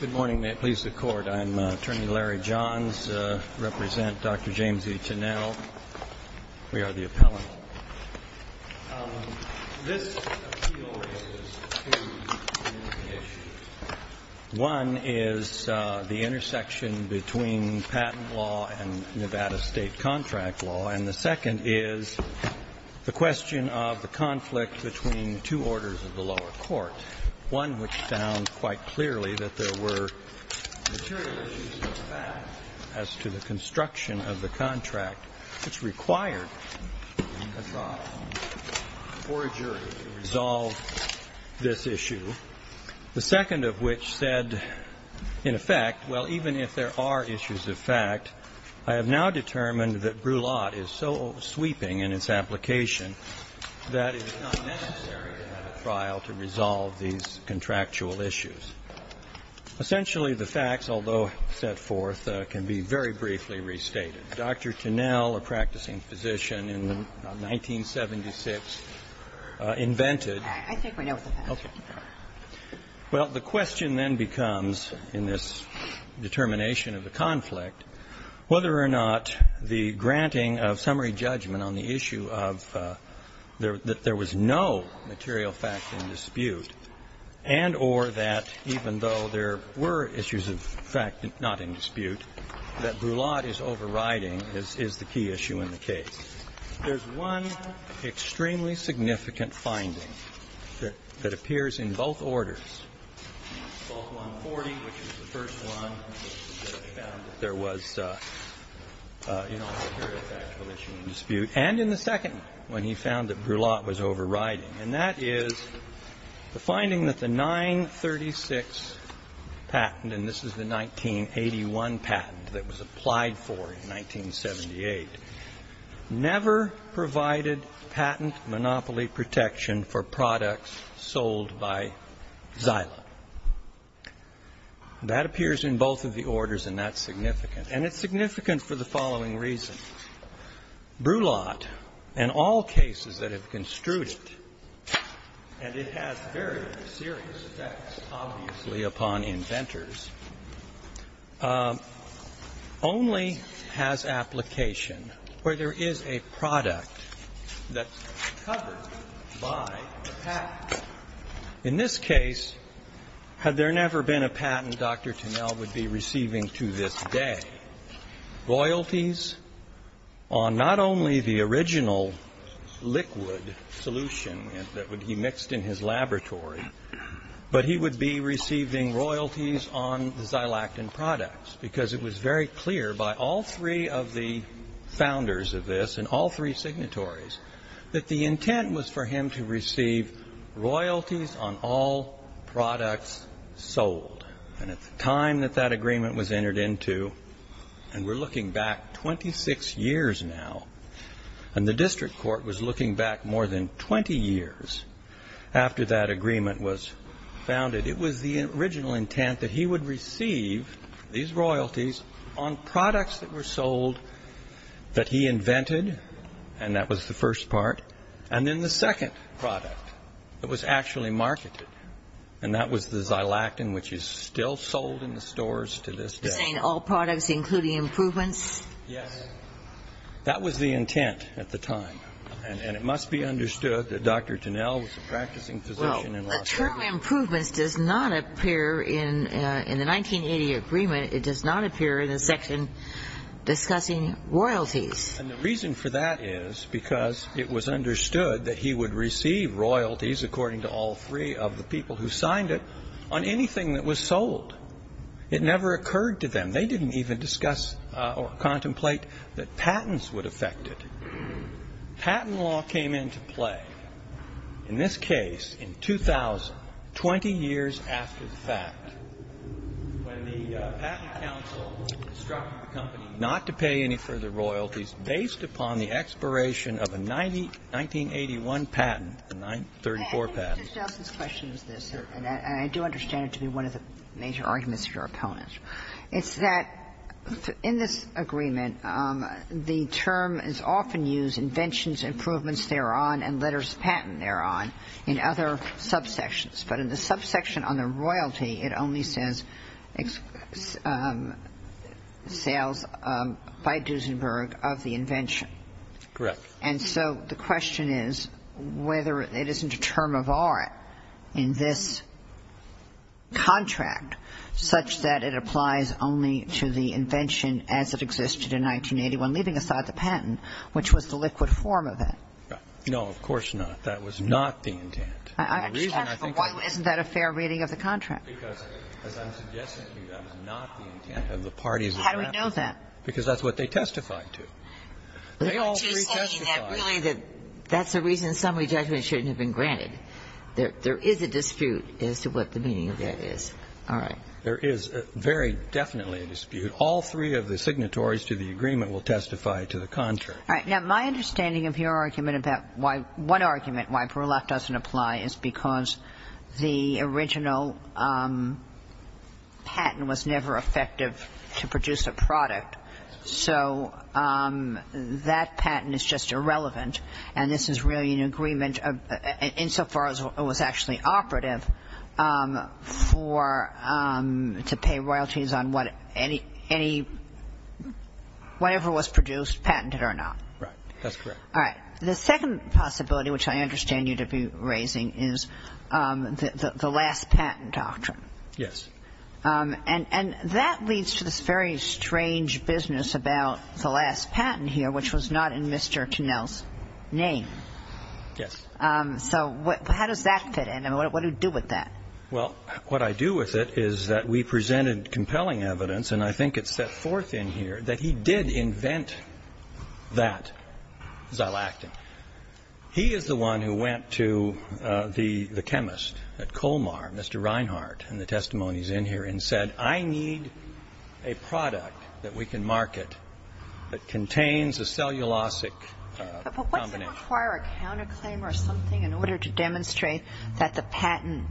Good morning. May it please the Court, I am Attorney Larry Johns. I represent Dr. James E. Tinnell. We are the appellant. This appeal raises two issues. One is the intersection between patent law and Nevada state contract law. And the second is the question of the conflict between two orders of the lower court. One which found quite clearly that there were material issues of fact as to the construction of the contract which required a trial for a jury to resolve this issue. The second of which said, in effect, well, even if there are issues of fact, I have now determined that Brulat is so sweeping in its application that it is not necessary to have a trial to resolve these contractual issues. Essentially, the facts, although set forth, can be very briefly restated. Dr. Tinnell, a practicing physician in 1976, invented. Well, the question then becomes, in this determination of the conflict, whether or not the granting of summary judgment on the issue of that there was no material fact in dispute, and or that even though there were issues of fact not in dispute, that Brulat is overriding is the key issue in the case. There's one extremely significant finding that appears in both orders. Both 140, which was the first one, found that there was no material fact of the issue in dispute. And in the second one, he found that Brulat was overriding. And that is the finding that the 936 patent, and this is the 1981 patent that was applied for in 1978, never provided patent monopoly protection for products sold by Xyla. That appears in both of the orders, and that's significant. And it's significant for the following reason. Brulat, in all cases that have construed it, and it has very serious effects, obviously, upon inventors, only has application where there is a product that's covered by a patent. In this case, had there never been a patent, Dr. Tunnell would be receiving to this day royalties on not only the original liquid solution that would be mixed in his laboratory, but he would be receiving royalties on the Xylactin products because it was very clear by all three of the founders of this and all three signatories that the intent was for him to receive royalties on all products sold. And at the time that that agreement was entered into, and we're looking back 26 years now, and the district court was looking back more than 20 years after that agreement was founded, it was the original intent that he would receive these royalties on products that were sold that he invented, and that was the first part. And then the second product that was actually marketed, and that was the Xylactin, which is still sold in the stores to this day. You're saying all products, including improvements? Yes. That was the intent at the time, and it must be understood that Dr. Tunnell was a practicing physician in Los Angeles. Well, the term improvements does not appear in the 1980 agreement. It does not appear in the section discussing royalties. And the reason for that is because it was understood that he would receive royalties, according to all three of the people who signed it, on anything that was sold. It never occurred to them. They didn't even discuss or contemplate that patents would affect it. Patent law came into play, in this case, in 2000, 20 years after the fact, when the Patent Council instructed the company not to pay any further royalties based upon the expiration of a 1981 patent, a 1934 patent. Let me just ask this question. And I do understand it to be one of the major arguments of your opponents. It's that, in this agreement, the term is often used, inventions, improvements thereon, and letters of patent thereon, in other subsections. But in the subsection on the royalty, it only says sales by Duesenberg of the invention. Correct. And so the question is whether it isn't a term of art in this contract such that it applies only to the invention as it existed in 1981, leaving aside the patent, which was the liquid form of it. No, of course not. That was not the intent. I'm just asking, why isn't that a fair reading of the contract? Because, as I'm suggesting to you, that was not the intent of the parties that drafted it. How do we know that? Because that's what they testified to. They all retestified it. But aren't you saying that really that that's the reason summary judgment shouldn't have been granted? There is a dispute as to what the meaning of that is. All right. There is very definitely a dispute. All three of the signatories to the agreement will testify to the contrary. All right. Now, my understanding of your argument about why one argument why Berlach doesn't apply is because the original patent was never effective to produce a product. So that patent is just irrelevant. And this is really an agreement insofar as it was actually operative to pay royalties on whatever was produced, patented or not. Right. That's correct. All right. The second possibility, which I understand you to be raising, is the last patent doctrine. Yes. And that leads to this very strange business about the last patent here, which was not in Mr. Connell's name. Yes. So how does that fit in? What do you do with that? Well, what I do with it is that we presented compelling evidence, and I think it's set forth in here, that he did invent that, Xylactin. He is the one who went to the chemist at Colmar, Mr. Reinhart, and the testimonies in here, and said, I need a product that we can market that contains a cellulosic combination. But what does it require? A counterclaim or something in order to demonstrate that the patent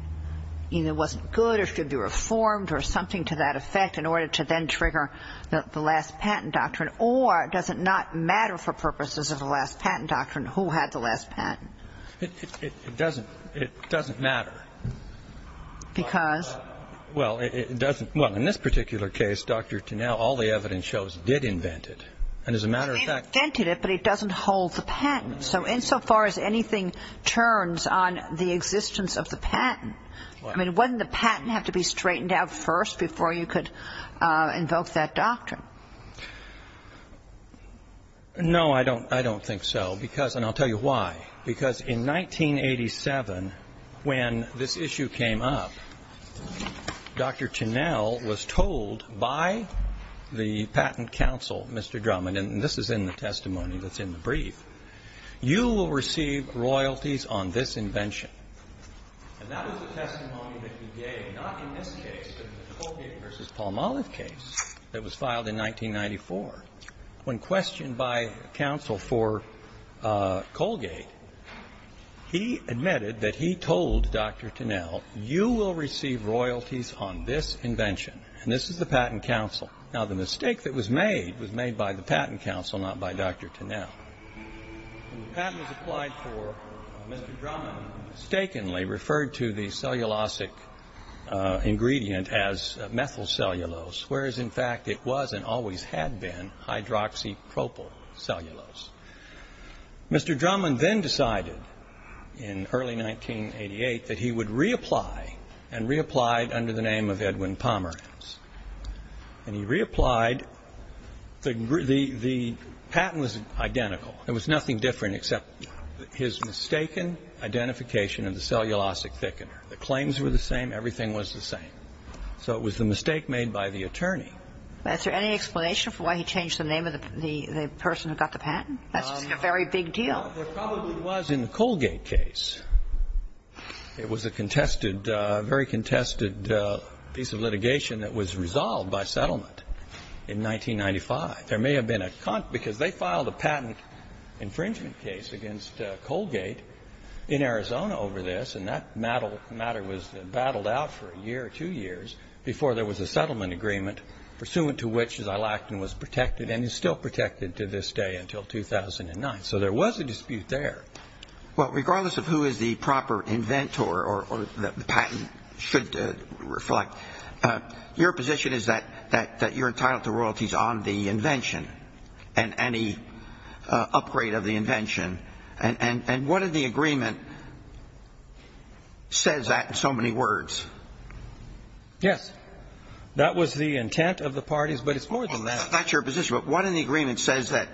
either wasn't good or should be reformed or something to that effect in order to then trigger the last patent doctrine? Or does it not matter for purposes of the last patent doctrine who had the last patent? It doesn't matter. Because? Well, in this particular case, Dr. Connell, all the evidence shows he did invent it. He invented it, but it doesn't hold the patent. So insofar as anything turns on the existence of the patent, I mean, wouldn't the patent have to be straightened out first before you could invoke that doctrine? No, I don't think so, and I'll tell you why. Because in 1987, when this issue came up, Dr. Connell was told by the patent counsel, Mr. Drummond, and this is in the testimony that's in the brief, you will receive royalties on this invention. And that was the testimony that he gave, not in this case, but in the Colgate v. Palmolive case that was filed in 1994. When questioned by counsel for Colgate, he admitted that he told Dr. Connell, you will receive royalties on this invention, and this is the patent counsel. Now, the mistake that was made was made by the patent counsel, not by Dr. Connell. When the patent was applied for, Mr. Drummond mistakenly referred to the cellulosic ingredient as methylcellulose, whereas, in fact, it was and always had been hydroxypropylcellulose. Mr. Drummond then decided in early 1988 that he would reapply, and reapplied under the name of Edwin Pomeranz. And he reapplied. The patent was identical. There was nothing different except his mistaken identification of the cellulosic thickener. The claims were the same. Everything was the same. So it was the mistake made by the attorney. Is there any explanation for why he changed the name of the person who got the patent? That's a very big deal. There probably was in the Colgate case. It was a contested, a very contested piece of litigation that was resolved by settlement in 1995. There may have been a cont because they filed a patent infringement case against Colgate in Arizona over this, and that matter was battled out for a year or two years before there was a settlement agreement, pursuant to which Xylactin was protected and is still protected to this day until 2009. So there was a dispute there. Well, regardless of who is the proper inventor or the patent should reflect, your position is that you're entitled to royalties on the invention and any upgrade of the invention. And what in the agreement says that in so many words? Yes. That was the intent of the parties, but it's more than that. That's your position. But what in the agreement says that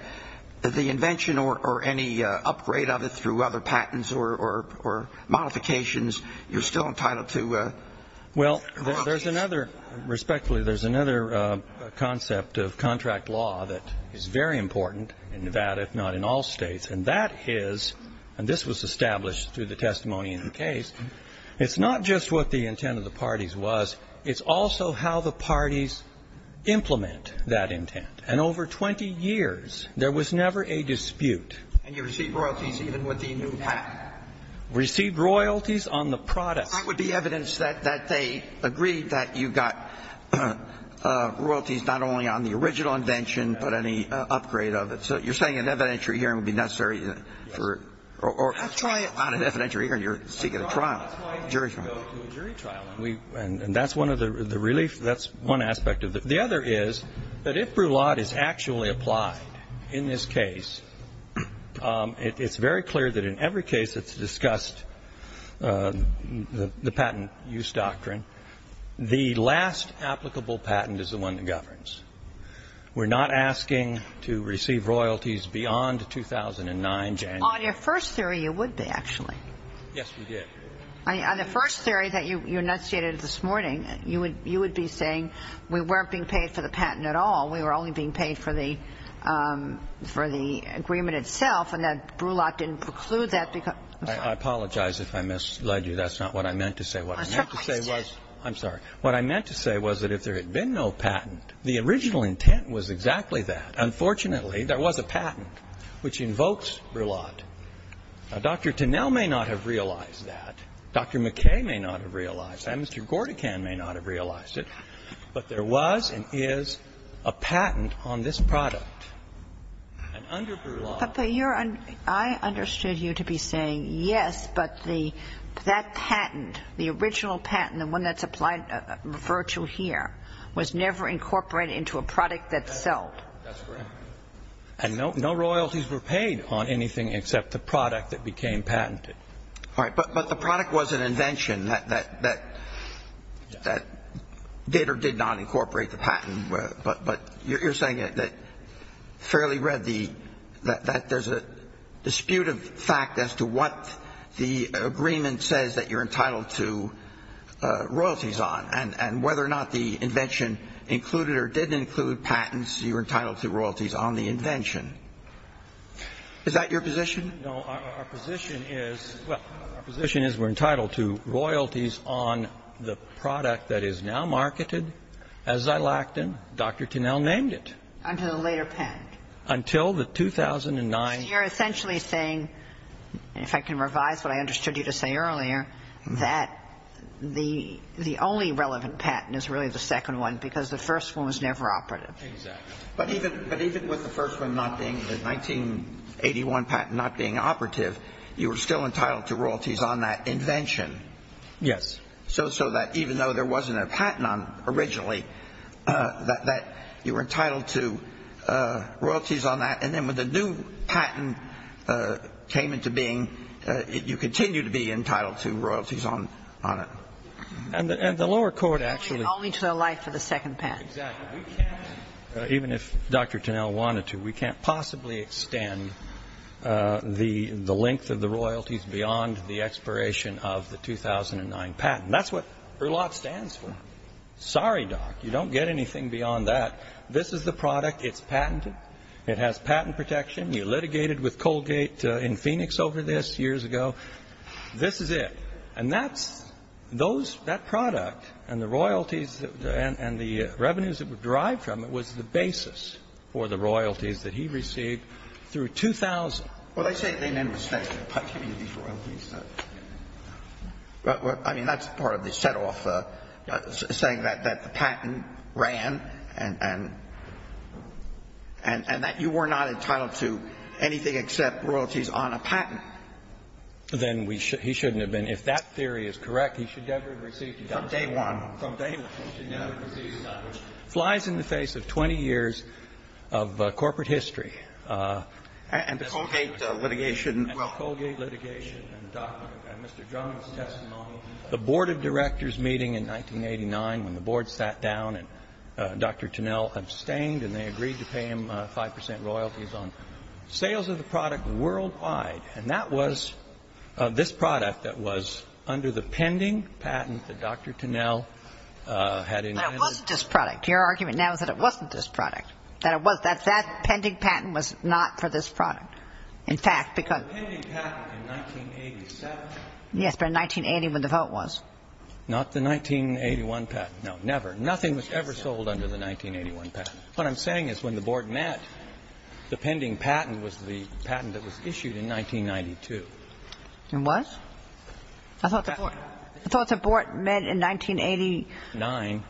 the invention or any upgrade of it through other patents or modifications, you're still entitled to royalties? Well, respectfully, there's another concept of contract law that is very important in Nevada, if not in all states, and that is, and this was established through the testimony in the case, it's not just what the intent of the parties was. It's also how the parties implement that intent. And over 20 years, there was never a dispute. And you received royalties even with the new patent? Received royalties on the product. That would be evidence that they agreed that you got royalties not only on the original invention, but any upgrade of it. So you're saying an evidentiary hearing would be necessary? Or try it on an evidentiary hearing. You're seeking a trial, a jury trial. And that's one of the reliefs. That's one aspect of it. The other is that if Brulot is actually applied in this case, it's very clear that in every case that's discussed the patent use doctrine, the last applicable patent is the one that governs. We're not asking to receive royalties beyond 2009 January. On your first theory, you would be, actually. Yes, we did. On the first theory that you enunciated this morning, you would be saying we weren't being paid for the patent at all. We were only being paid for the agreement itself, and that Brulot didn't preclude that. I apologize if I misled you. That's not what I meant to say. I'm sorry. What I meant to say was that if there had been no patent, the original intent was exactly that. Unfortunately, there was a patent which invokes Brulot. Now, Dr. Tinnell may not have realized that. Dr. McKay may not have realized that. Mr. Gordican may not have realized it. But there was and is a patent on this product, and under Brulot. I understood you to be saying, yes, but that patent, the original patent, the one that's applied, referred to here, was never incorporated into a product that's sold. That's correct. And no royalties were paid on anything except the product that became patented. All right. But the product was an invention that did or did not incorporate the patent. But you're saying that fairly readily that there's a dispute of fact as to what the agreement says that you're entitled to royalties on, and whether or not the invention included or didn't include patents, you're entitled to royalties on the invention. Is that your position? No, our position is, well, our position is we're entitled to royalties on the product that is now marketed as Xylactone. Dr. Tinnell named it. Until the later patent. Until the 2009. So you're essentially saying, and if I can revise what I understood you to say earlier, that the only relevant patent is really the second one, because the first one was never operative. Exactly. But even with the first one not being the 1981 patent not being operative, you were still entitled to royalties on that invention. Yes. So that even though there wasn't a patent on it originally, that you were entitled to royalties on that, and then when the new patent came into being, you continue to be entitled to royalties on it. And the lower court actually. Only to the life of the second patent. Exactly. Even if Dr. Tinnell wanted to, we can't possibly extend the length of the royalties beyond the expiration of the 2009 patent. That's what ERLAT stands for. Sorry, doc. You don't get anything beyond that. This is the product. It's patented. It has patent protection. You litigated with Colgate in Phoenix over this years ago. This is it. And that's those, that product and the royalties and the revenues that were derived from it was the basis for the royalties that he received through 2000. Well, they say they meant respect to the patent of these royalties. I mean, that's part of the set off saying that the patent ran and that you were not entitled to anything except royalties on a patent. Then he shouldn't have been. If that theory is correct, he should never have received a doctorate. From day one. From day one. He should never have received a doctorate. It flies in the face of 20 years of corporate history. And the Colgate litigation. And the Colgate litigation. And the doctorate. And Mr. Drummond's testimony. The board of directors meeting in 1989 when the board sat down and Dr. Tinnell abstained and they agreed to pay him 5% royalties on sales of the product worldwide. And that was this product that was under the pending patent that Dr. Tinnell had in mind. But it wasn't this product. Your argument now is that it wasn't this product. That it was. That that pending patent was not for this product. In fact, because. The pending patent in 1987. Yes, but in 1980 when the vote was. Not the 1981 patent. No, never. Nothing was ever sold under the 1981 patent. What I'm saying is when the board met, the pending patent was the patent that was issued in 1992. It was? I thought the board. I thought the board met in 1989.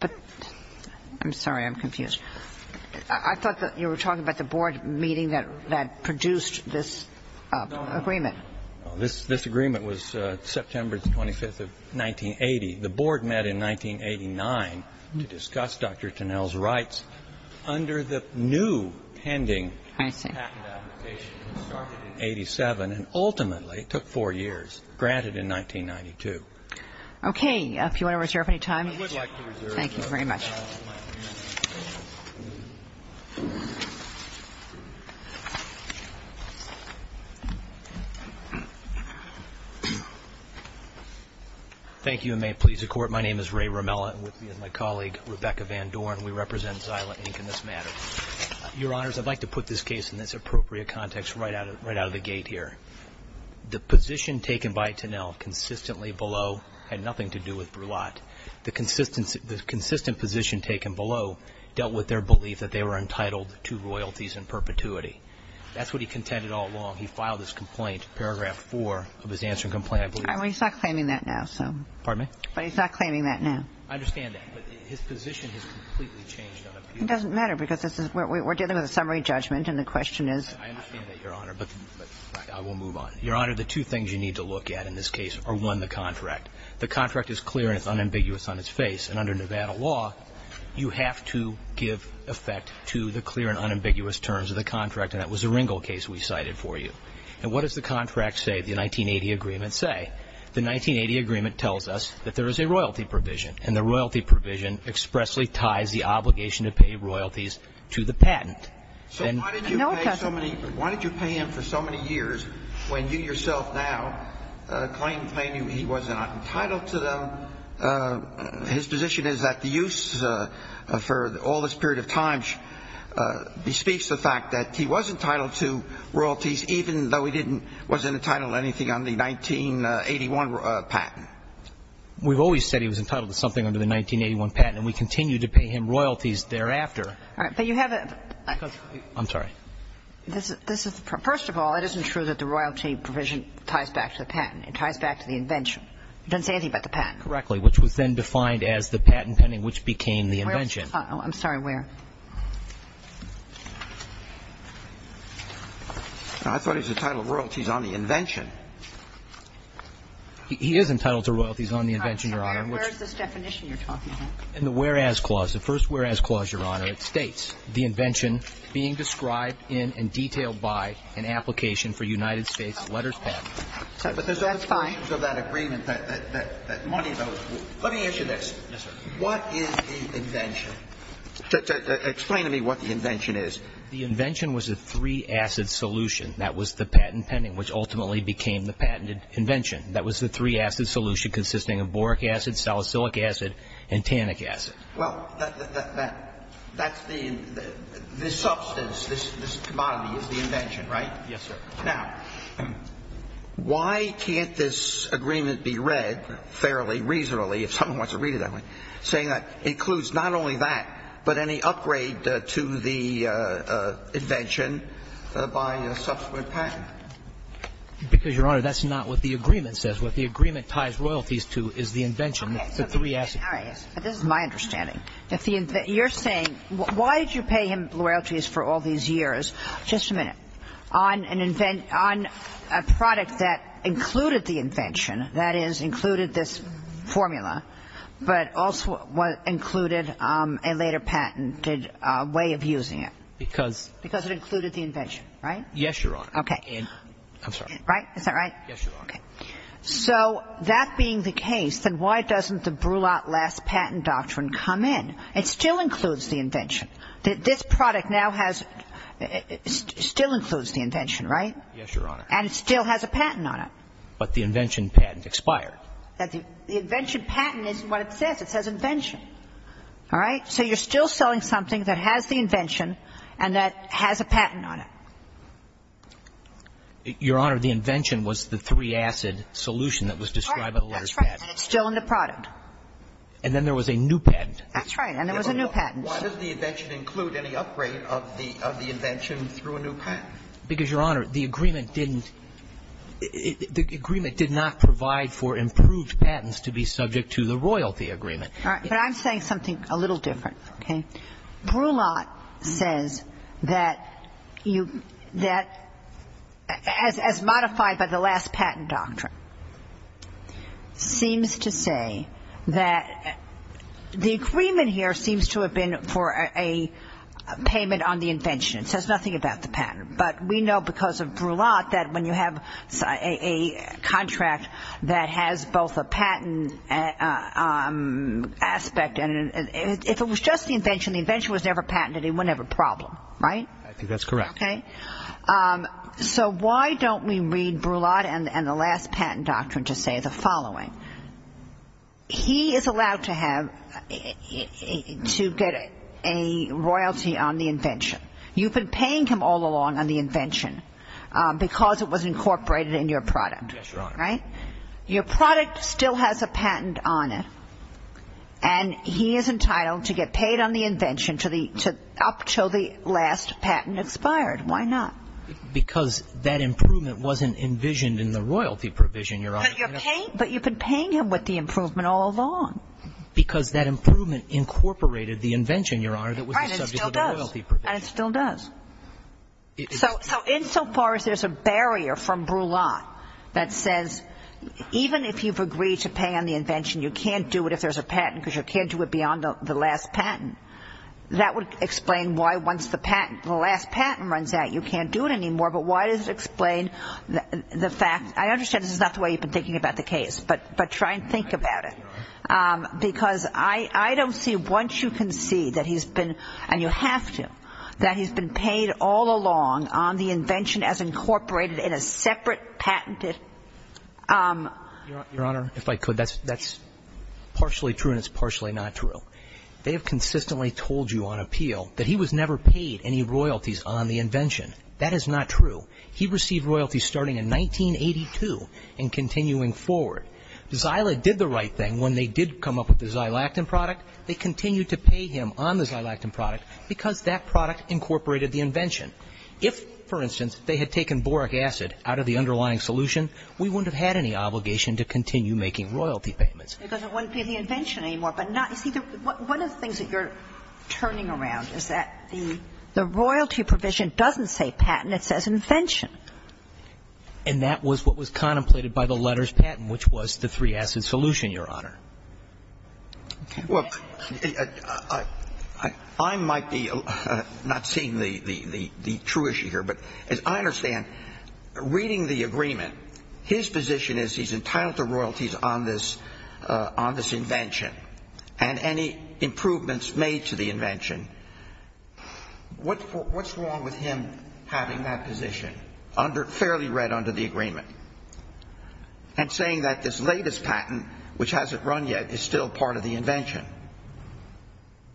But. I'm sorry. I'm confused. I thought that you were talking about the board meeting that produced this agreement. No, no. This agreement was September 25th of 1980. The board met in 1989 to discuss Dr. Tinnell's rights under the new pending patent application. I see. It started in 1987 and ultimately took four years. Granted in 1992. Okay. If you want to reserve any time. I would like to reserve. Thank you very much. Thank you and may it please the court. My name is Ray Romella and with me is my colleague, Rebecca Van Dorn. We represent Silent Inc. in this matter. Your honors, I'd like to put this case in this appropriate context right out of the gate here. The position taken by Tinnell consistently below had nothing to do with Brulot. The consistent position taken below dealt with their belief that they were entitled to royalties in perpetuity. That's what he contended all along. He filed this complaint, paragraph four of his answering complaint. He's not claiming that now. Pardon me? But he's not claiming that now. I understand that. But his position has completely changed. It doesn't matter because we're dealing with a summary judgment and the question is. I understand that, your honor, but I will move on. Your honor, the two things you need to look at in this case are, one, the contract. The contract is clear and it's unambiguous on its face. And under Nevada law, you have to give effect to the clear and unambiguous terms of the contract. And that was the Ringel case we cited for you. And what does the contract say, the 1980 agreement say? The 1980 agreement tells us that there is a royalty provision. And the royalty provision expressly ties the obligation to pay royalties to the patent. So why did you pay so many why did you pay him for so many years when you yourself now claim, claim he was not entitled to them? His position is that the use for all this period of time bespeaks the fact that he was entitled to royalties even though he didn't, wasn't entitled to anything on the 1981 patent. We've always said he was entitled to something under the 1981 patent and we continue to pay him royalties thereafter. All right. But you have a. I'm sorry. First of all, it isn't true that the royalty provision ties back to the patent. It ties back to the invention. It doesn't say anything about the patent. Correctly, which was then defined as the patent pending which became the invention. I'm sorry, where? I thought he was entitled to royalties on the invention. He is entitled to royalties on the invention, Your Honor. Where is this definition you're talking about? In the whereas clause. The first whereas clause, Your Honor, it states the invention being described in and detailed by an application for United States letters patent. But there's all kinds of that agreement that money goes. Let me ask you this. Yes, sir. What is the invention? Explain to me what the invention is. The invention was a three-acid solution. That was the patent pending which ultimately became the patented invention. That was the three-acid solution consisting of boric acid, salicylic acid and tannic acid. Well, that's the substance, this commodity is the invention, right? Yes, sir. Now, why can't this agreement be read fairly reasonably, if someone wants to read it that way, saying that it includes not only that, but any upgrade to the invention by a subsequent patent? Because, Your Honor, that's not what the agreement says. What the agreement ties royalties to is the invention, the three acids. All right. This is my understanding. You're saying why did you pay him royalties for all these years, just a minute, on a product that included the invention, that is, included this formula, but also included a later patented way of using it? Because. Because it included the invention, right? Yes, Your Honor. Okay. I'm sorry. Right? Is that right? Yes, Your Honor. Okay. So that being the case, then why doesn't the Brulat Last Patent Doctrine come in? It still includes the invention. This product now has – still includes the invention, right? Yes, Your Honor. And it still has a patent on it. But the invention patent expired. The invention patent isn't what it says. It says invention. All right? So you're still selling something that has the invention and that has a patent on it. Your Honor, the invention was the three-acid solution that was described in the letter's patent. That's right. And it's still in the product. And then there was a new patent. That's right. And there was a new patent. Why does the invention include any upgrade of the invention through a new patent? Because, Your Honor, the agreement didn't – the agreement did not provide for improved patents to be subject to the royalty agreement. All right. But I'm saying something a little different, okay? Brulat says that you – that as modified by the last patent doctrine, seems to say that the agreement here seems to have been for a payment on the invention. It says nothing about the patent. But we know because of Brulat that when you have a contract that has both a patent aspect and if it was just the invention, the invention was never patented, it wouldn't have a problem. Right? I think that's correct. Okay? So why don't we read Brulat and the last patent doctrine to say the following? He is allowed to have – to get a royalty on the invention. You've been paying him all along on the invention because it was incorporated in your product. Yes, Your Honor. Right? Your product still has a patent on it. And he is entitled to get paid on the invention to the – up until the last patent expired. Why not? Because that improvement wasn't envisioned in the royalty provision, Your Honor. But you're paying – but you've been paying him with the improvement all along. Because that improvement incorporated the invention, Your Honor, that was the subject of the royalty provision. And it still does. So insofar as there's a barrier from Brulat that says even if you've agreed to pay on the invention, you can't do it if there's a patent because you can't do it beyond the last patent, that would explain why once the patent – the last patent runs out, you can't do it anymore. But why does it explain the fact – I understand this is not the way you've been thinking about the case. But try and think about it. Because I don't see once you concede that he's been – and you have to – that he's been paid all along on the invention as incorporated in a separate patented – Your Honor, if I could, that's partially true and it's partially not true. They have consistently told you on appeal that he was never paid any royalties on the invention. That is not true. He received royalties starting in 1982 and continuing forward. Zyla did the right thing when they did come up with the Xylactin product. They continued to pay him on the Xylactin product because that product incorporated the invention. If, for instance, they had taken boric acid out of the underlying solution, we wouldn't have had any obligation to continue making royalty payments. Because it wouldn't be the invention anymore. But not – you see, one of the things that you're turning around is that the royalty provision doesn't say patent. It says invention. And that was what was contemplated by the letters patent, which was the three-acid solution, Your Honor. Well, I might be not seeing the true issue here, but as I understand, reading the agreement, his position is he's entitled to royalties on this invention and any improvements made to the invention. What's wrong with him having that position? Fairly read under the agreement. And saying that this latest patent, which hasn't run yet, is still part of the invention.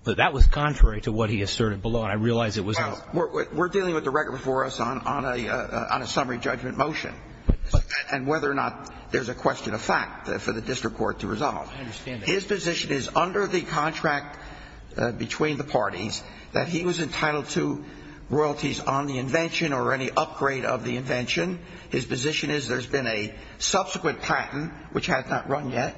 But that was contrary to what he asserted below, and I realize it was – Well, we're dealing with the record before us on a summary judgment motion, and whether or not there's a question of fact for the district court to resolve. I understand that. His position is, under the contract between the parties, that he was entitled to royalties on the invention or any upgrade of the invention. His position is there's been a subsequent patent, which has not run yet,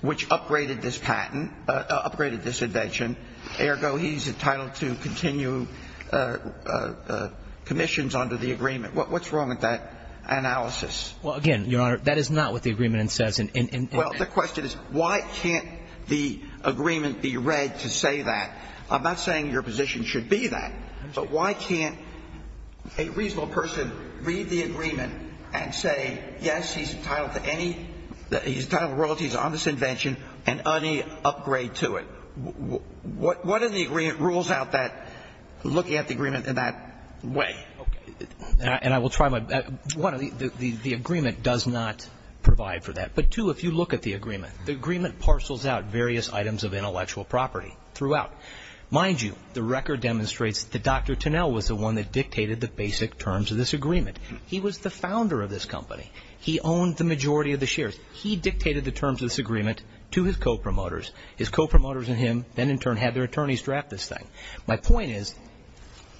which upgraded this patent – upgraded this invention. Ergo, he's entitled to continue commissions under the agreement. What's wrong with that analysis? Well, again, Your Honor, that is not what the agreement says. Well, the question is, why can't the agreement be read to say that? I'm not saying your position should be that, but why can't a reasonable person read the agreement and say, yes, he's entitled to any – he's entitled to royalties on this invention and any upgrade to it? What in the agreement rules out that – looking at the agreement in that way? Okay. And I will try my – one, the agreement does not provide for that. But, two, if you look at the agreement, the agreement parcels out various items of intellectual property throughout. Mind you, the record demonstrates that Dr. Tunnell was the one that dictated the basic terms of this agreement. He was the founder of this company. He owned the majority of the shares. He dictated the terms of this agreement to his co-promoters. His co-promoters and him then, in turn, had their attorneys draft this thing. My point is,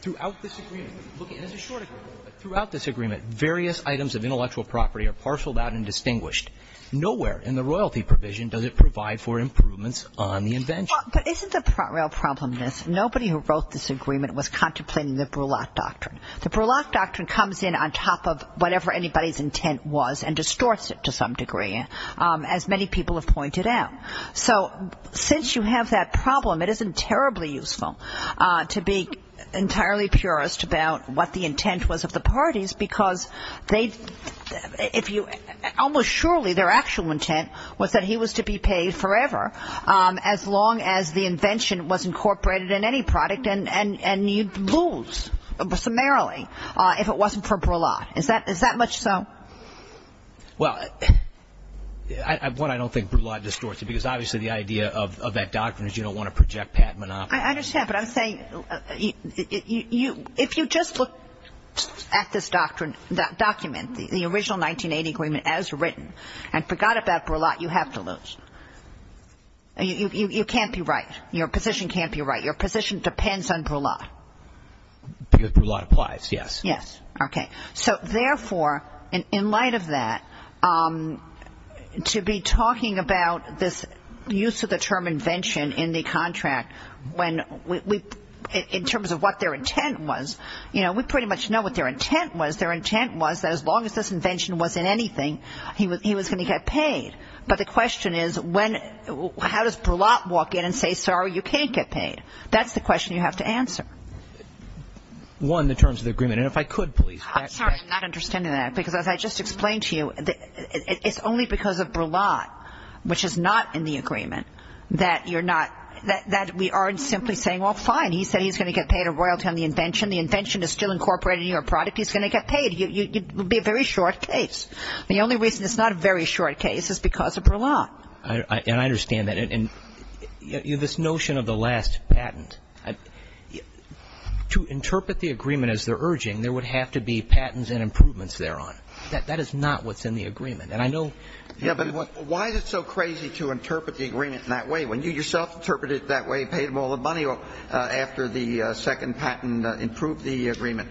throughout this agreement – and this is short – throughout this agreement, various items of intellectual property are parceled out and distinguished. Nowhere in the royalty provision does it provide for improvements on the invention. But isn't the real problem this? Nobody who wrote this agreement was contemplating the Brulac doctrine. The Brulac doctrine comes in on top of whatever anybody's intent was and distorts it to some degree, as many people have pointed out. So since you have that problem, it isn't terribly useful to be entirely purist about what the intent was of the parties because almost surely their actual intent was that he was to be paid forever, as long as the invention was incorporated in any product, and you'd lose summarily if it wasn't for Brulac. Is that much so? Well, one, I don't think Brulac distorts it because obviously the idea of that doctrine is you don't want to project Pat Monopo. I understand, but I'm saying if you just look at this document, the original 1980 agreement as written, and forgot about Brulac, you have to lose. You can't be right. Your position can't be right. Your position depends on Brulac. Because Brulac applies, yes. Yes. Okay. So therefore, in light of that, to be talking about this use of the term invention in the contract, in terms of what their intent was, you know, we pretty much know what their intent was. Their intent was that as long as this invention was in anything, he was going to get paid. But the question is, how does Brulac walk in and say, sorry, you can't get paid? That's the question you have to answer. One, in terms of the agreement. And if I could, please. I'm sorry. I'm not understanding that. Because as I just explained to you, it's only because of Brulac, which is not in the agreement, that we aren't simply saying, well, fine, he said he's going to get paid a royalty on the invention. The invention is still incorporated in your product. He's going to get paid. It would be a very short case. The only reason it's not a very short case is because of Brulac. And I understand that. And this notion of the last patent, to interpret the agreement as they're urging, there would have to be patents and improvements thereon. That is not what's in the agreement. And I know. Yeah, but why is it so crazy to interpret the agreement in that way, when you yourself interpreted it that way and paid him all the money after the second patent improved the agreement?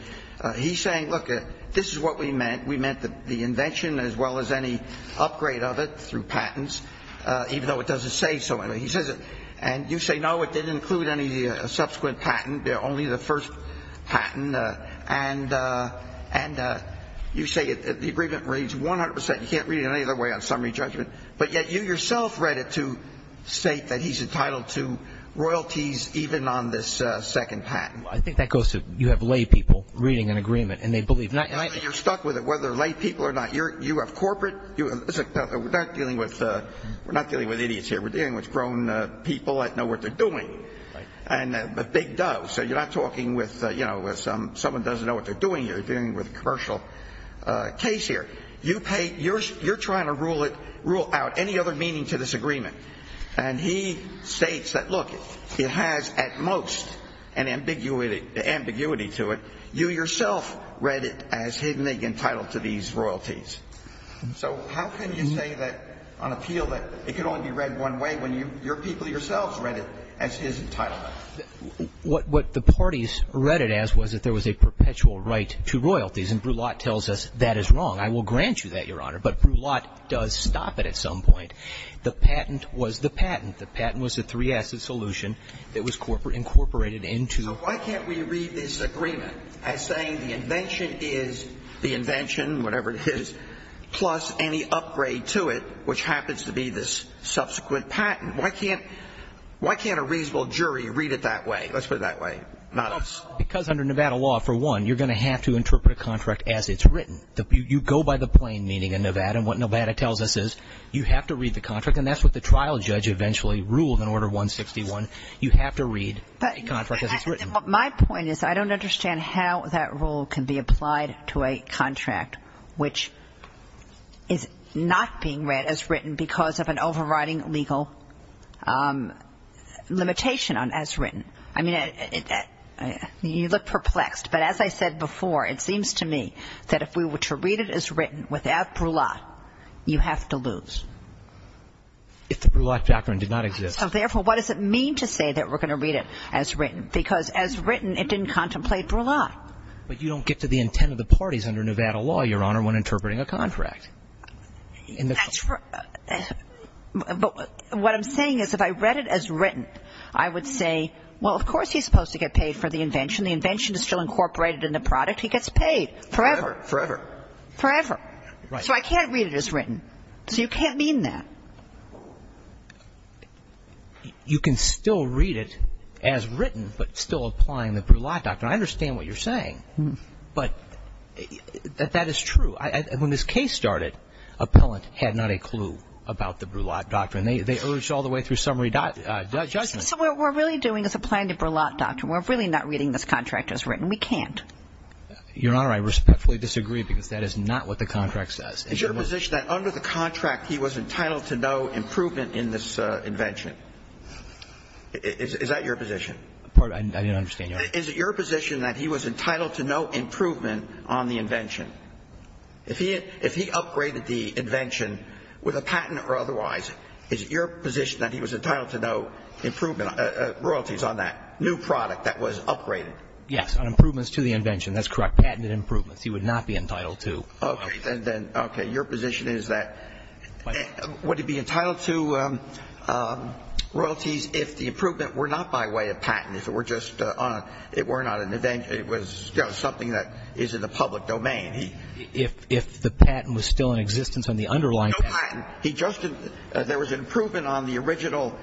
He's saying, look, this is what we meant. We meant the invention as well as any upgrade of it through patents, even though it doesn't say so. He says it. And you say, no, it didn't include any subsequent patent, only the first patent. And you say the agreement reads 100%. You can't read it any other way on summary judgment. But yet you yourself read it to state that he's entitled to royalties even on this second patent. I think that goes to you have lay people reading an agreement, and they believe. And you're stuck with it, whether they're lay people or not. You have corporate. We're not dealing with idiots here. We're dealing with grown people that know what they're doing, and big doves. So you're not talking with someone who doesn't know what they're doing. You're dealing with a commercial case here. You're trying to rule out any other meaning to this agreement. And he states that, look, it has at most an ambiguity to it. You yourself read it as hidden and entitled to these royalties. So how can you say that on appeal that it can only be read one way when your people yourselves read it as his entitlement? What the parties read it as was that there was a perpetual right to royalties. And Brulotte tells us that is wrong. I will grant you that, Your Honor. But Brulotte does stop it at some point. The patent was the patent. The patent was the three-asset solution that was incorporated into the patent. Plus any upgrade to it, which happens to be this subsequent patent. Why can't a reasonable jury read it that way? Let's put it that way. Not us. Because under Nevada law, for one, you're going to have to interpret a contract as it's written. You go by the plain meaning in Nevada, and what Nevada tells us is you have to read the contract, and that's what the trial judge eventually ruled in Order 161. You have to read a contract as it's written. My point is I don't understand how that rule can be applied to a contract, which is not being read as written because of an overriding legal limitation on as written. I mean, you look perplexed, but as I said before, it seems to me that if we were to read it as written without Brulotte, you have to lose. If the Brulotte doctrine did not exist. So, therefore, what does it mean to say that we're going to read it as written? Because as written, it didn't contemplate Brulotte. But you don't get to the intent of the parties under Nevada law, Your Honor, when interpreting a contract. But what I'm saying is if I read it as written, I would say, well, of course he's supposed to get paid for the invention. The invention is still incorporated in the product. He gets paid forever. Forever. Forever. So I can't read it as written. So you can't mean that. You can still read it as written, but still applying the Brulotte doctrine. I understand what you're saying. But that is true. When this case started, Appellant had not a clue about the Brulotte doctrine. They urged all the way through summary judgment. So what we're really doing is applying the Brulotte doctrine. We're really not reading this contract as written. We can't. Your Honor, I respectfully disagree, because that is not what the contract says. Is your position that under the contract he was entitled to no improvement in this invention? Is that your position? I didn't understand, Your Honor. Is it your position that he was entitled to no improvement on the invention? If he upgraded the invention with a patent or otherwise, is it your position that he was entitled to no improvement, royalties on that new product that was upgraded? Yes, on improvements to the invention. That's correct. Patented improvements he would not be entitled to. Okay. Then, okay. Your position is that would he be entitled to royalties if the improvement were not by way of patent, if it were just on a ‑‑ it were not an invention. It was, you know, something that is in the public domain. If the patent was still in existence on the underlying patent. No patent. There was an improvement on the original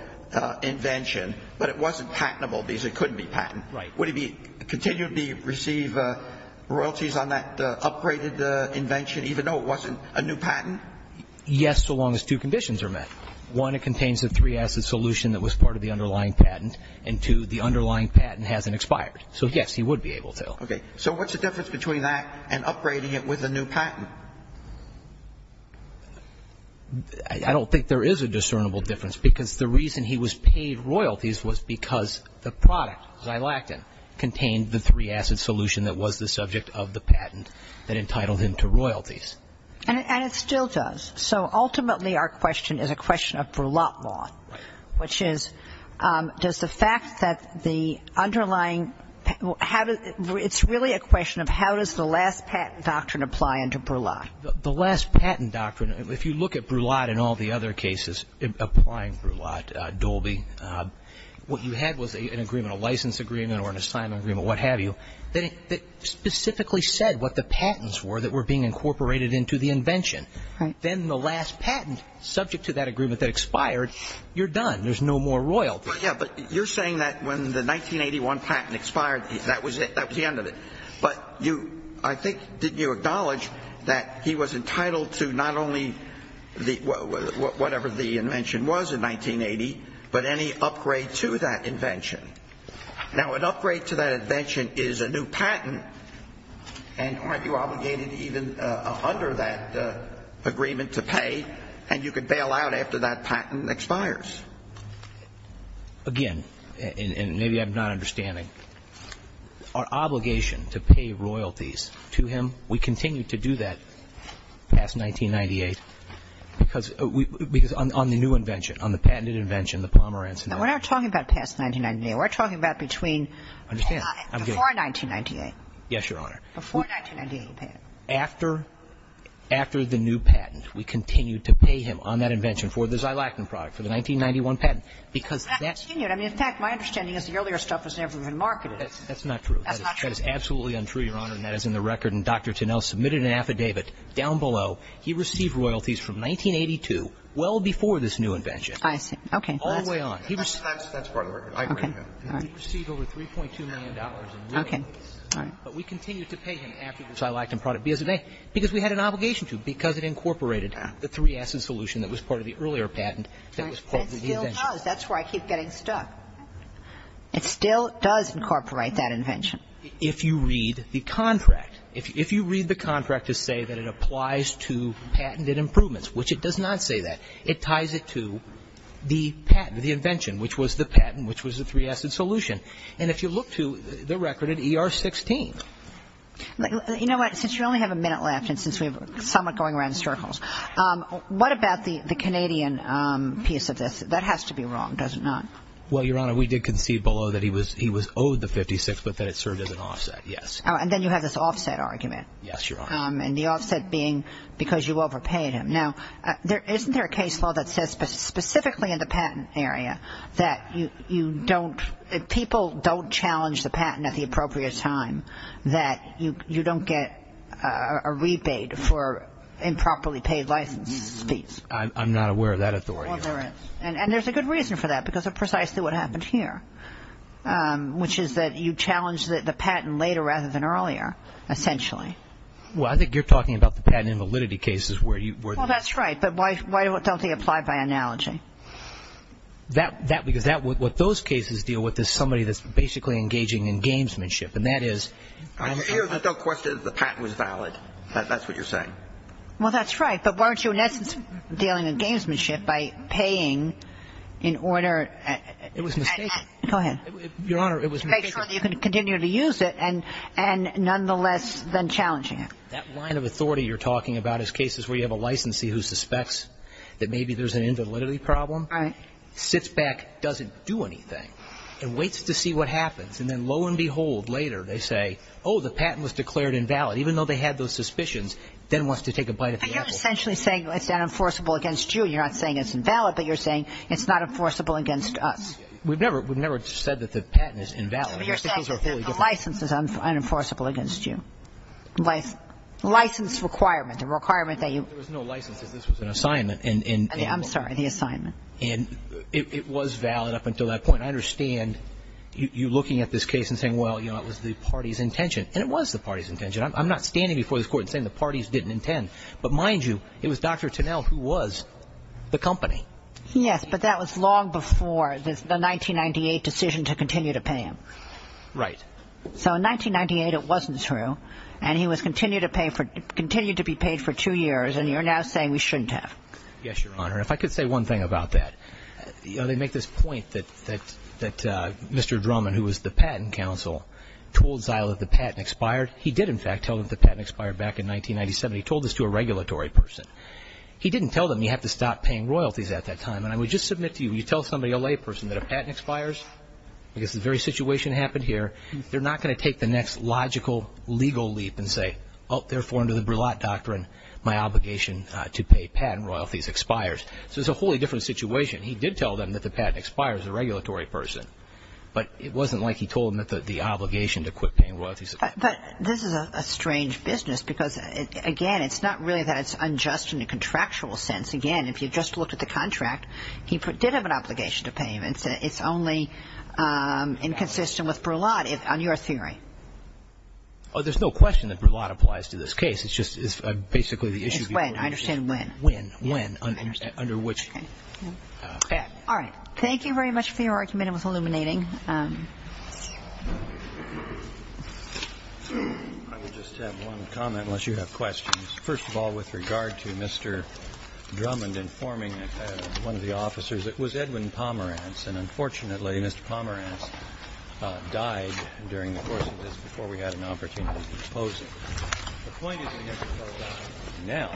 invention, but it wasn't patentable because it couldn't be patent. Right. Would he continue to receive royalties on that upgraded invention even though it wasn't a new patent? Yes, so long as two conditions are met. One, it contains a three-asset solution that was part of the underlying patent. And two, the underlying patent hasn't expired. So, yes, he would be able to. Okay. So what's the difference between that and upgrading it with a new patent? I don't think there is a discernible difference because the reason he was paid royalties was because the product, Xylactin, contained the three-asset solution that was the subject of the patent that entitled him to royalties. And it still does. So ultimately our question is a question of Brulotte law. Right. Which is, does the fact that the underlying ‑‑ it's really a question of how does the last patent doctrine apply into Brulotte? The last patent doctrine, if you look at Brulotte and all the other cases applying Brulotte, Dolby, what you had was an agreement, a license agreement or an assignment agreement, what have you, that specifically said what the patents were that were being incorporated into the invention. Right. Then the last patent, subject to that agreement that expired, you're done. There's no more royalties. Yeah, but you're saying that when the 1981 patent expired, that was it, that was the end of it. But you, I think, didn't you acknowledge that he was entitled to not only whatever the invention was in 1980, but any upgrade to that invention? Now, an upgrade to that invention is a new patent, and aren't you obligated even under that agreement to pay, and you could bail out after that patent expires? Again, and maybe I'm not understanding, our obligation to pay royalties to him, we continued to do that past 1998, because on the new invention, on the patented invention, the Pomerantz invention. Now, we're not talking about past 1998. We're talking about between before 1998. Yes, Your Honor. Before 1998. After the new patent, we continued to pay him on that invention for the Xylactin product, for the 1991 patent, because that's. I mean, in fact, my understanding is the earlier stuff was never even marketed. That's not true. That's not true. That is absolutely untrue, Your Honor, and that is in the record. submitted an affidavit down below. He received royalties from 1982, well before this new invention. I see. Okay. All the way on. That's part of the record. Okay. And he received over $3.2 million in royalties. Okay. All right. But we continued to pay him after the Xylactin product because we had an obligation to, because it incorporated the three-acid solution that was part of the earlier patent that was part of the invention. It still does. That's where I keep getting stuck. It still does incorporate that invention. If you read the contract. If you read the contract to say that it applies to patented improvements, which it does not say that, it ties it to the patent, the invention, which was the patent, which was the three-acid solution. And if you look to the record at ER 16. You know what? Since you only have a minute left and since we have somewhat going around in circles, what about the Canadian piece of this? That has to be wrong, does it not? Well, Your Honor, we did concede below that he was owed the 56, but that it served as an offset, yes. And then you have this offset argument. Yes, Your Honor. And the offset being because you overpaid him. Now, isn't there a case law that says specifically in the patent area that you don't, if people don't challenge the patent at the appropriate time, that you don't get a rebate for improperly paid license fees? I'm not aware of that authority, Your Honor. Well, there is. And there's a good reason for that because of precisely what happened here, which is that you challenged the patent later rather than earlier, essentially. Well, I think you're talking about the patent invalidity cases where you were. Well, that's right. But why don't they apply by analogy? Because what those cases deal with is somebody that's basically engaging in gamesmanship, and that is. The question is the patent was valid. That's what you're saying. Well, that's right. But weren't you, in essence, dealing in gamesmanship by paying in order. It was a mistake. Go ahead. Your Honor, it was a mistake. To make sure that you could continue to use it and nonetheless then challenging it. That line of authority you're talking about is cases where you have a licensee who suspects that maybe there's an invalidity problem. Right. Sits back, doesn't do anything, and waits to see what happens. And then, lo and behold, later they say, oh, the patent was declared invalid, even though they had those suspicions, then wants to take a bite of the apple. Well, you're essentially saying it's unenforceable against you. You're not saying it's invalid, but you're saying it's not enforceable against us. We've never said that the patent is invalid. But you're saying that the license is unenforceable against you. License requirement, the requirement that you. There was no license. This was an assignment. I'm sorry. The assignment. And it was valid up until that point. I understand you looking at this case and saying, well, you know, it was the party's intention. And it was the party's intention. I'm not standing before this court and saying the party's didn't intend. But, mind you, it was Dr. Tunnell who was the company. Yes, but that was long before the 1998 decision to continue to pay him. Right. So in 1998 it wasn't true, and he was continued to be paid for two years, and you're now saying we shouldn't have. Yes, Your Honor. If I could say one thing about that. You know, they make this point that Mr. Drummond, who was the patent counsel, told Zile that the patent expired. He did, in fact, tell them that the patent expired back in 1997. He told this to a regulatory person. He didn't tell them you have to stop paying royalties at that time. And I would just submit to you, when you tell somebody, a layperson, that a patent expires, because the very situation happened here, they're not going to take the next logical legal leap and say, oh, therefore, under the Brillat Doctrine, my obligation to pay patent royalties expires. So it's a wholly different situation. He did tell them that the patent expires, the regulatory person. But it wasn't like he told them that the obligation to quit paying royalties. But this is a strange business, because, again, it's not really that it's unjust in a contractual sense. Again, if you just look at the contract, he did have an obligation to pay him. It's only inconsistent with Brillat on your theory. Oh, there's no question that Brillat applies to this case. It's just basically the issue. It's when. I understand when. When, when, under which. All right. Thank you very much for your argument. It was illuminating. I will just have one comment, unless you have questions. First of all, with regard to Mr. Drummond informing one of the officers, it was Edwin Pomerantz, and unfortunately, Mr. Pomerantz died during the course of this before we had an opportunity to propose it. The point is we haven't told now.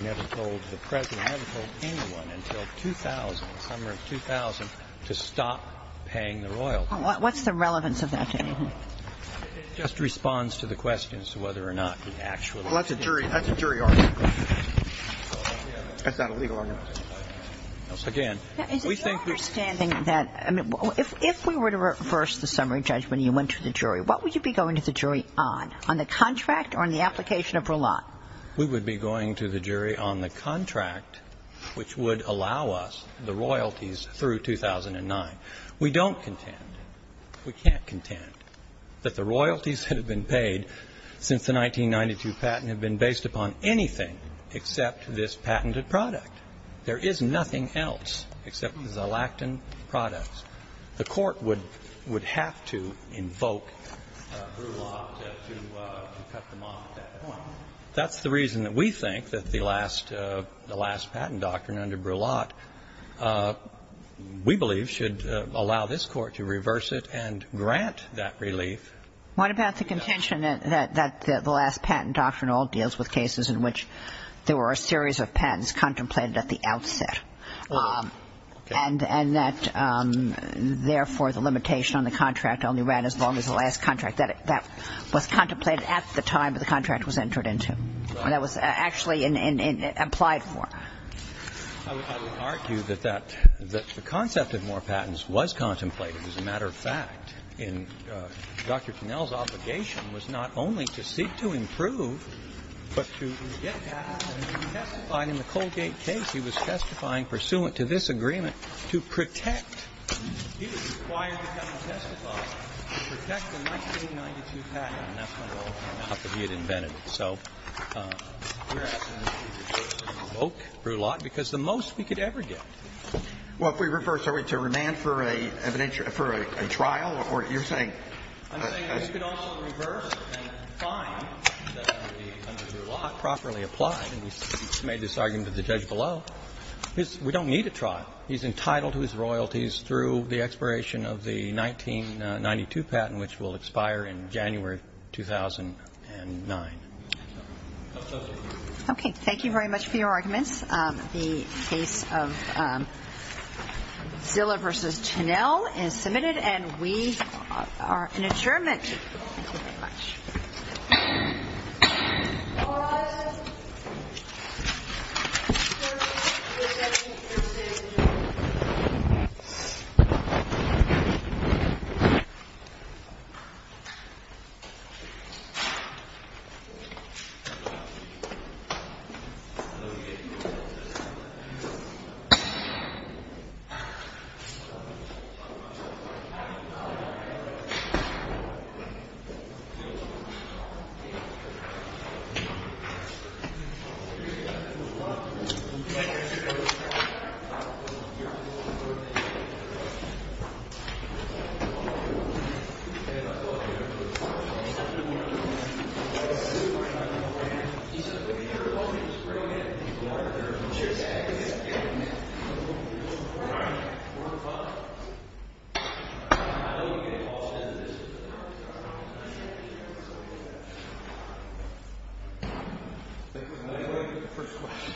We haven't told the President. We haven't told anyone until 2000, the summer of 2000, to stop paying the royalty. What's the relevance of that to anyone? It just responds to the question as to whether or not the actual. Well, that's a jury argument. That's not a legal argument. Again, we think. Is it your understanding that, I mean, if we were to reverse the summary judgment and you went to the jury, what would you be going to the jury on, on the contract or on the application of Brillat? We would be going to the jury on the contract which would allow us the royalties through 2009. We don't contend, we can't contend, that the royalties that have been paid since the 1992 patent have been based upon anything except this patented product. There is nothing else except the Xalactin products. The Court would have to invoke Brillat to cut them off at that point. That's the reason that we think that the last patent doctrine under Brillat, we believe, should allow this Court to reverse it and grant that relief. What about the contention that the last patent doctrine all deals with cases in which there were a series of patents contemplated at the outset and that, therefore, the limitation on the contract only ran as long as the last contract? That was contemplated at the time the contract was entered into. That was actually implied for. I would argue that the concept of more patents was contemplated. As a matter of fact, Dr. Finnell's obligation was not only to seek to improve, but to get patents and to testify. In the Colgate case, he was testifying pursuant to this agreement to protect. He was required to come and testify to protect the 1992 patent, and that's when it all came out that he had invented it. So we're asking that you invoke Brillat because the most we could ever get. Well, if we reverse it, are we to remand for a trial? You're saying? I'm saying we could also reverse and find that under Brillat, properly applied. And we made this argument with the judge below. We don't need a trial. He's entitled to his royalties through the expiration of the 1992 patent, which will expire in January 2009. Okay. Thank you very much for your arguments. The case of Zillow v. Chinell is submitted, and we are in adjournment. Thank you very much. All rise. Thank you. Thank you. First question. Thank you. Thank you.